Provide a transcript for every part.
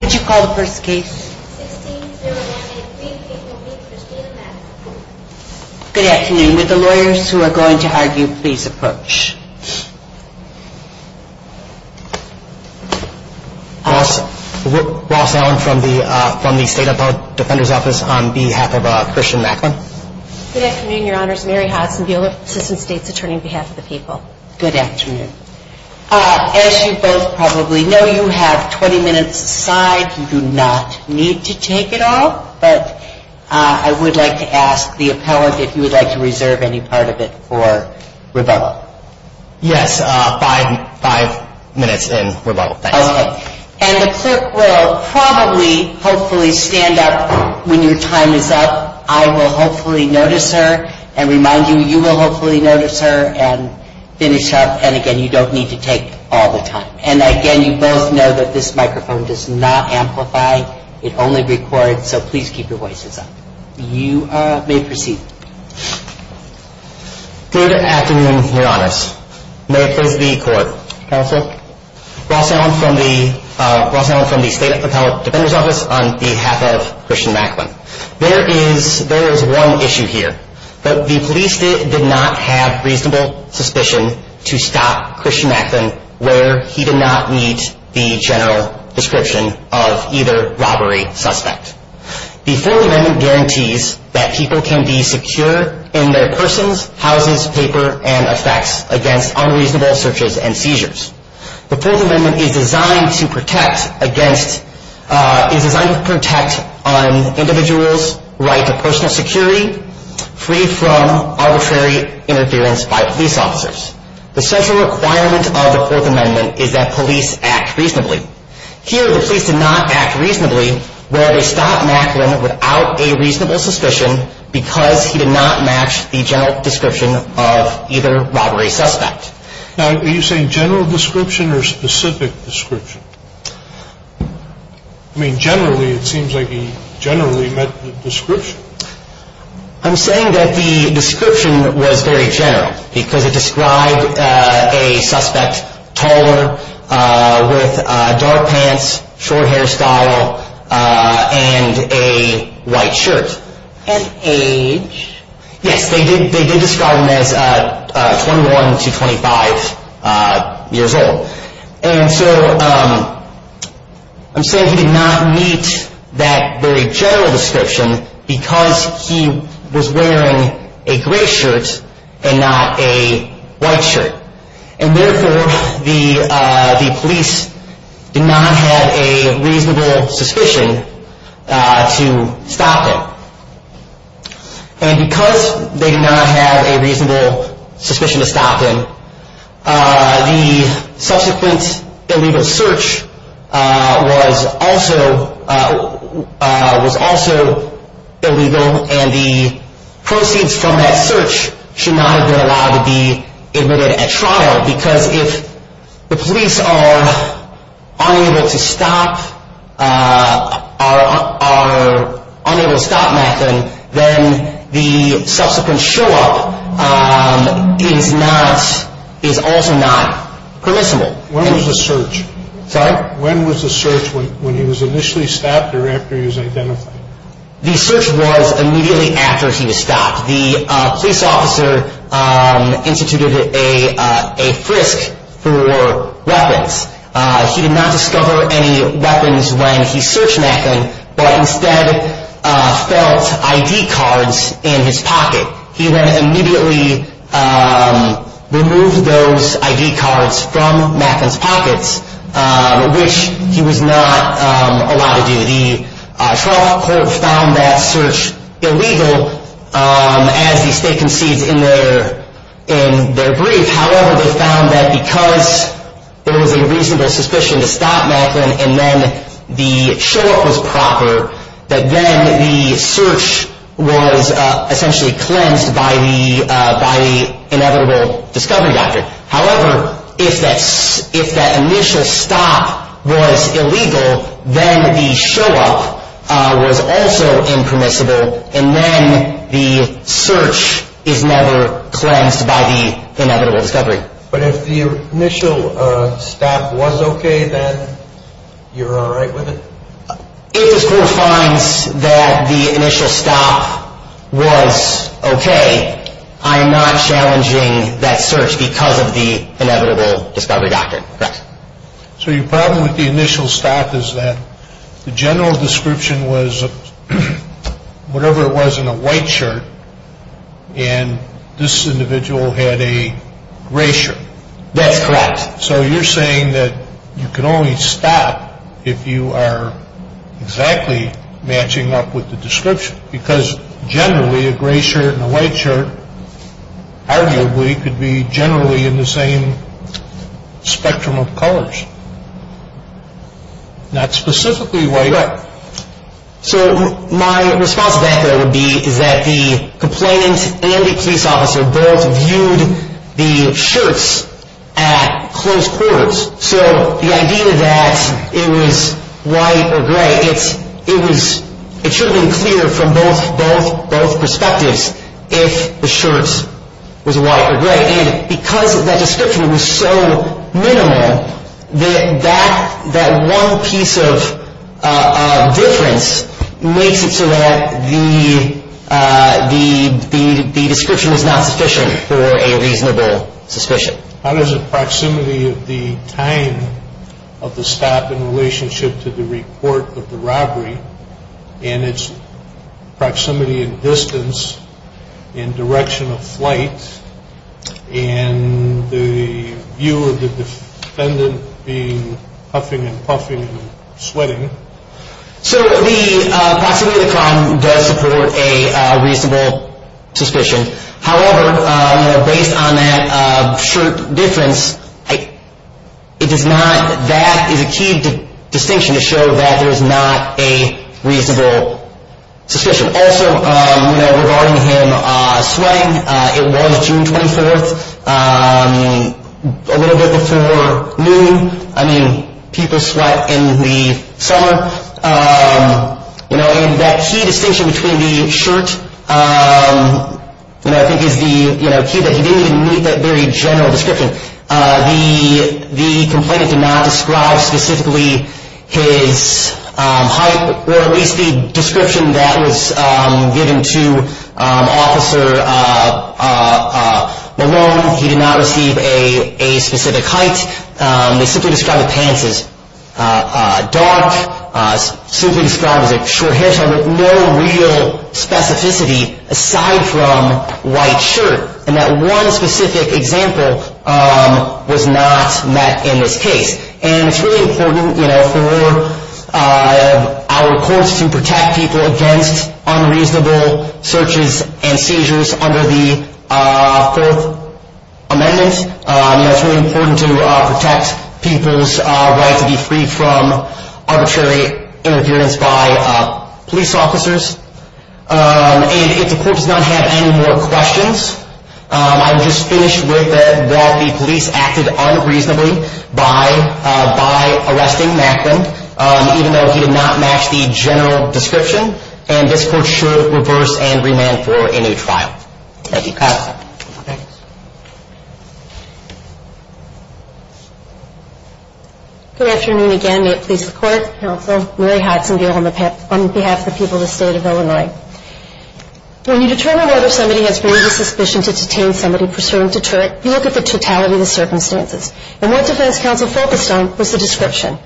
Good afternoon. Your Honor, Mary Hodson, Bureau of Assistance States Attorney on behalf of As you both probably know, you have 20 minutes aside. You do not need to take it all, but I would like to ask the appellant if you would like to reserve any part of it for rebuttal. Yes, five minutes in rebuttal. And the clerk will probably, hopefully, stand up when your time is up. I will hopefully notice her and remind you, you will hopefully notice her and finish up. And again, you don't need to take all the time. And again, you both know that this microphone does not amplify. It only records, so please keep your voices up. You may proceed. Good afternoon, Your Honors. May I please have the court? Counsel. Ross Allen from the State Appellate Defender's Office on behalf of Christian Macklin. There is one issue here. The police did not have reasonable suspicion to stop Christian Macklin where he did not meet the general description of either robbery suspect. The Fourth Amendment guarantees that people can be secure in their persons, houses, paper, and effects against unreasonable searches and seizures. The Fourth Amendment is designed to protect on individuals' right to personal security free from arbitrary interference by police officers. The central requirement of the Fourth Amendment is that police act reasonably. Here, the police did not act reasonably where they stopped Macklin without a reasonable suspicion because he did not match the general description of either robbery suspect. Now, are you saying general description or specific description? I mean, generally, it seems like he generally met the description. I'm saying that the description was very general because it described a suspect taller with dark pants, short hairstyle, and a white shirt. And age? Yes, they did describe him as 21 to 25 years old. And so I'm saying he did not meet that very general description because he was wearing a gray shirt and not a white shirt. And therefore, the police did not have a reasonable suspicion to stop him. And because they did not have a reasonable suspicion to stop him, the subsequent illegal search was also illegal. And the proceeds from that search should not have been allowed to be admitted at trial because if the police are unable to stop Macklin, then the subsequent show up is also not permissible. When was the search? Sorry? When was the search when he was initially stopped or after he was identified? The search was immediately after he was stopped. The police officer instituted a frisk for weapons. He did not discover any weapons when he searched Macklin, but instead felt ID cards in his pocket. He then immediately removed those ID cards from Macklin's pockets, which he was not allowed to do. The trial court found that search illegal as the state concedes in their brief. However, they found that because there was a reasonable suspicion to stop Macklin and then the show up was proper, that then the search was essentially cleansed by the inevitable discovery doctor. However, if that initial stop was illegal, then the show up was also impermissible and then the search is never cleansed by the inevitable discovery. But if the initial stop was okay, then you're all right with it? If the court finds that the initial stop was okay, I'm not challenging that search because of the inevitable discovery doctor. Correct. So your problem with the initial stop is that the general description was whatever it was in a white shirt and this individual had a gray shirt. That's correct. So you're saying that you can only stop if you are exactly matching up with the description because generally a gray shirt and a white shirt arguably could be generally in the same spectrum of colors. Not specifically white. So my response to that would be that the complainant and the police officer both viewed the shirts at close quarters. So the idea that it was white or gray, it should have been clear from both perspectives if the shirts was white or gray. Because that description was so minimal, that one piece of difference makes it so that the description is not sufficient for a reasonable suspicion. How does the proximity of the time of the stop in relationship to the report of the robbery and its proximity and distance and direction of flight and the view of the defendant being huffing and puffing and sweating? So the proximity of the crime does support a reasonable suspicion. However, based on that shirt difference, that is a key distinction to show that there is not a reasonable suspicion. Regarding him sweating, it was June 24th, a little bit before noon. I mean, people sweat in the summer. And that key distinction between the shirt is the key that he didn't even meet that very general description. The complainant did not describe specifically his height or at least the description that was given to Officer Malone. He did not receive a specific height. They simply described the pants as dark, simply described as a short hair. So no real specificity aside from white shirt. And that one specific example was not met in this case. And it's really important for our courts to protect people against unreasonable searches and seizures under the Fourth Amendment. It's really important to protect people's right to be free from arbitrary interference by police officers. And if the court does not have any more questions, I would just finish with that the police acted unreasonably by arresting Macklin, even though he did not match the general description, and this court should reverse and remand for a new trial. Thank you. I'll pass that. Thanks. Good afternoon again. May it please the Court, Counsel, Mary Hodgson on behalf of the people of the State of Illinois. When you determine whether somebody has a suspicion to detain somebody for certain deterrent, you look at the totality of the circumstances. And what defense counsel focused on was the description.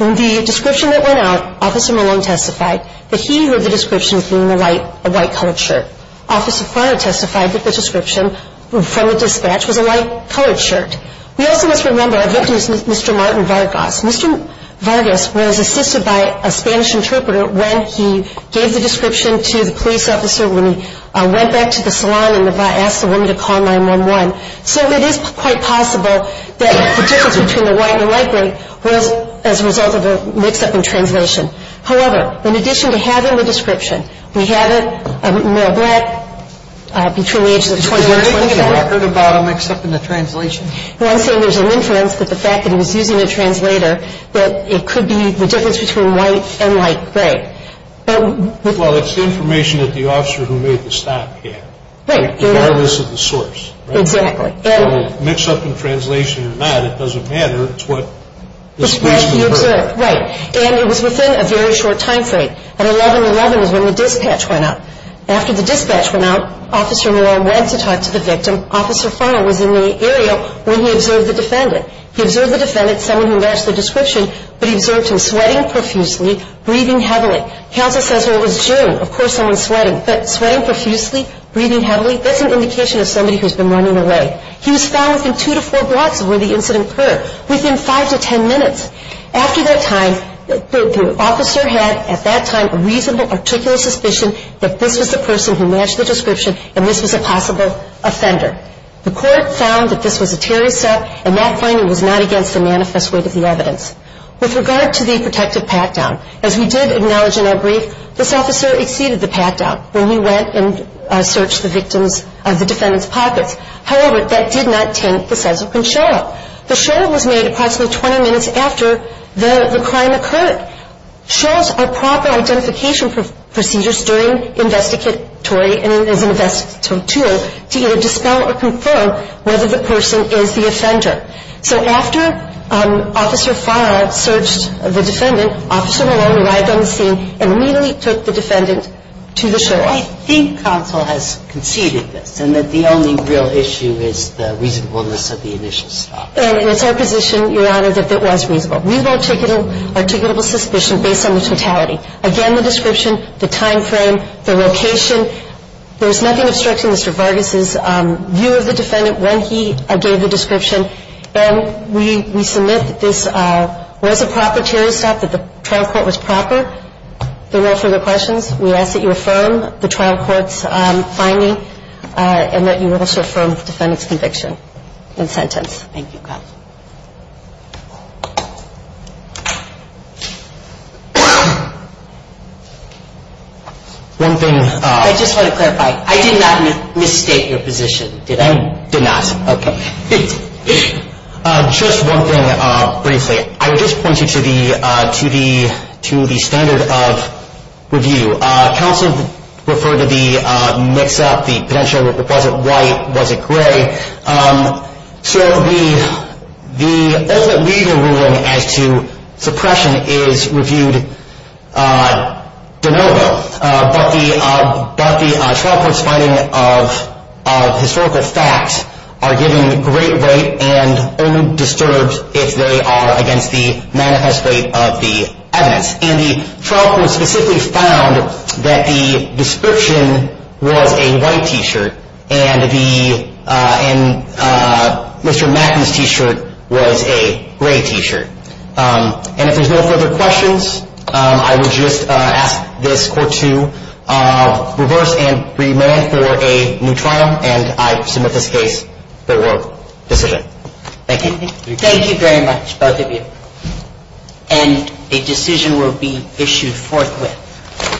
In the description that went out, Officer Malone testified that he heard the description being a white colored shirt. Officer Farra testified that the description from the dispatch was a white colored shirt. We also must remember our victim is Mr. Martin Vargas. Mr. Vargas was assisted by a Spanish interpreter when he gave the description to the police officer when he went back to the salon and asked the woman to call 911. So it is quite possible that the difference between the white and the light gray was as a result of a mix-up in translation. However, in addition to having the description, we had a male black between the ages of 20 and 25. Was there any record about a mix-up in the translation? I'm not saying there's an inference, but the fact that he was using a translator, that it could be the difference between white and light gray. Well, it's information that the officer who made the stop had. Right. Regardless of the source. Exactly. So mix-up in translation or not, it doesn't matter. It's what was placed in the record. Right. And it was within a very short time frame. At 11-11 is when the dispatch went out. After the dispatch went out, Officer Moreau went to talk to the victim. Officer Funnell was in the area when he observed the defendant. He observed the defendant, someone who matched the description, but he observed him sweating profusely, breathing heavily. Counsel says, well, it was June. Of course, someone's sweating. But sweating profusely, breathing heavily, that's an indication of somebody who's been running away. He was found within two to four blocks of where the incident occurred, within five to ten minutes. After that time, the officer had, at that time, a reasonable, articulate suspicion that this was the person who matched the description and this was a possible offender. The court found that this was a terrorist act, and that finding was not against the manifest weight of the evidence. With regard to the protective pat-down, as we did acknowledge in our brief, this officer exceeded the pat-down when he went and searched the victim's, the defendant's pockets. However, that did not taint the size of the show-up. The show-up was made approximately 20 minutes after the crime occurred. Show-ups are proper identification procedures during investigatory and as an investigatory tool to either dispel or confirm whether the person is the offender. So after Officer Farrar searched the defendant, Officer Malone arrived on the scene and immediately took the defendant to the show-up. So I think counsel has conceded this, and that the only real issue is the reasonableness of the initial stop. And it's our position, Your Honor, that it was reasonable. Reasonable, articulable suspicion based on the totality. Again, the description, the time frame, the location, there was nothing obstructing Mr. Vargas' view of the defendant when he gave the description. And we submit that this was a proper terrorist act, that the trial court was proper. If there are no further questions, we ask that you affirm the trial court's finding and that you also affirm the defendant's conviction and sentence. Thank you, counsel. One thing. I just want to clarify. I did not misstate your position, did I? You did not. Okay. Just one thing briefly. I would just point you to the standard of review. Counsel referred to the mix-up, the potential. Was it white? Was it gray? So the ultimate legal ruling as to suppression is reviewed de novo. But the trial court's finding of historical facts are given great weight and only disturbed if they are against the manifest weight of the evidence. And the trial court specifically found that the description was a white T-shirt and Mr. Macken's T-shirt was a gray T-shirt. And if there's no further questions, I would just ask this court to reverse and remand for a new trial, and I submit this case for decision. Thank you. Thank you very much, both of you. And a decision will be issued forthwith.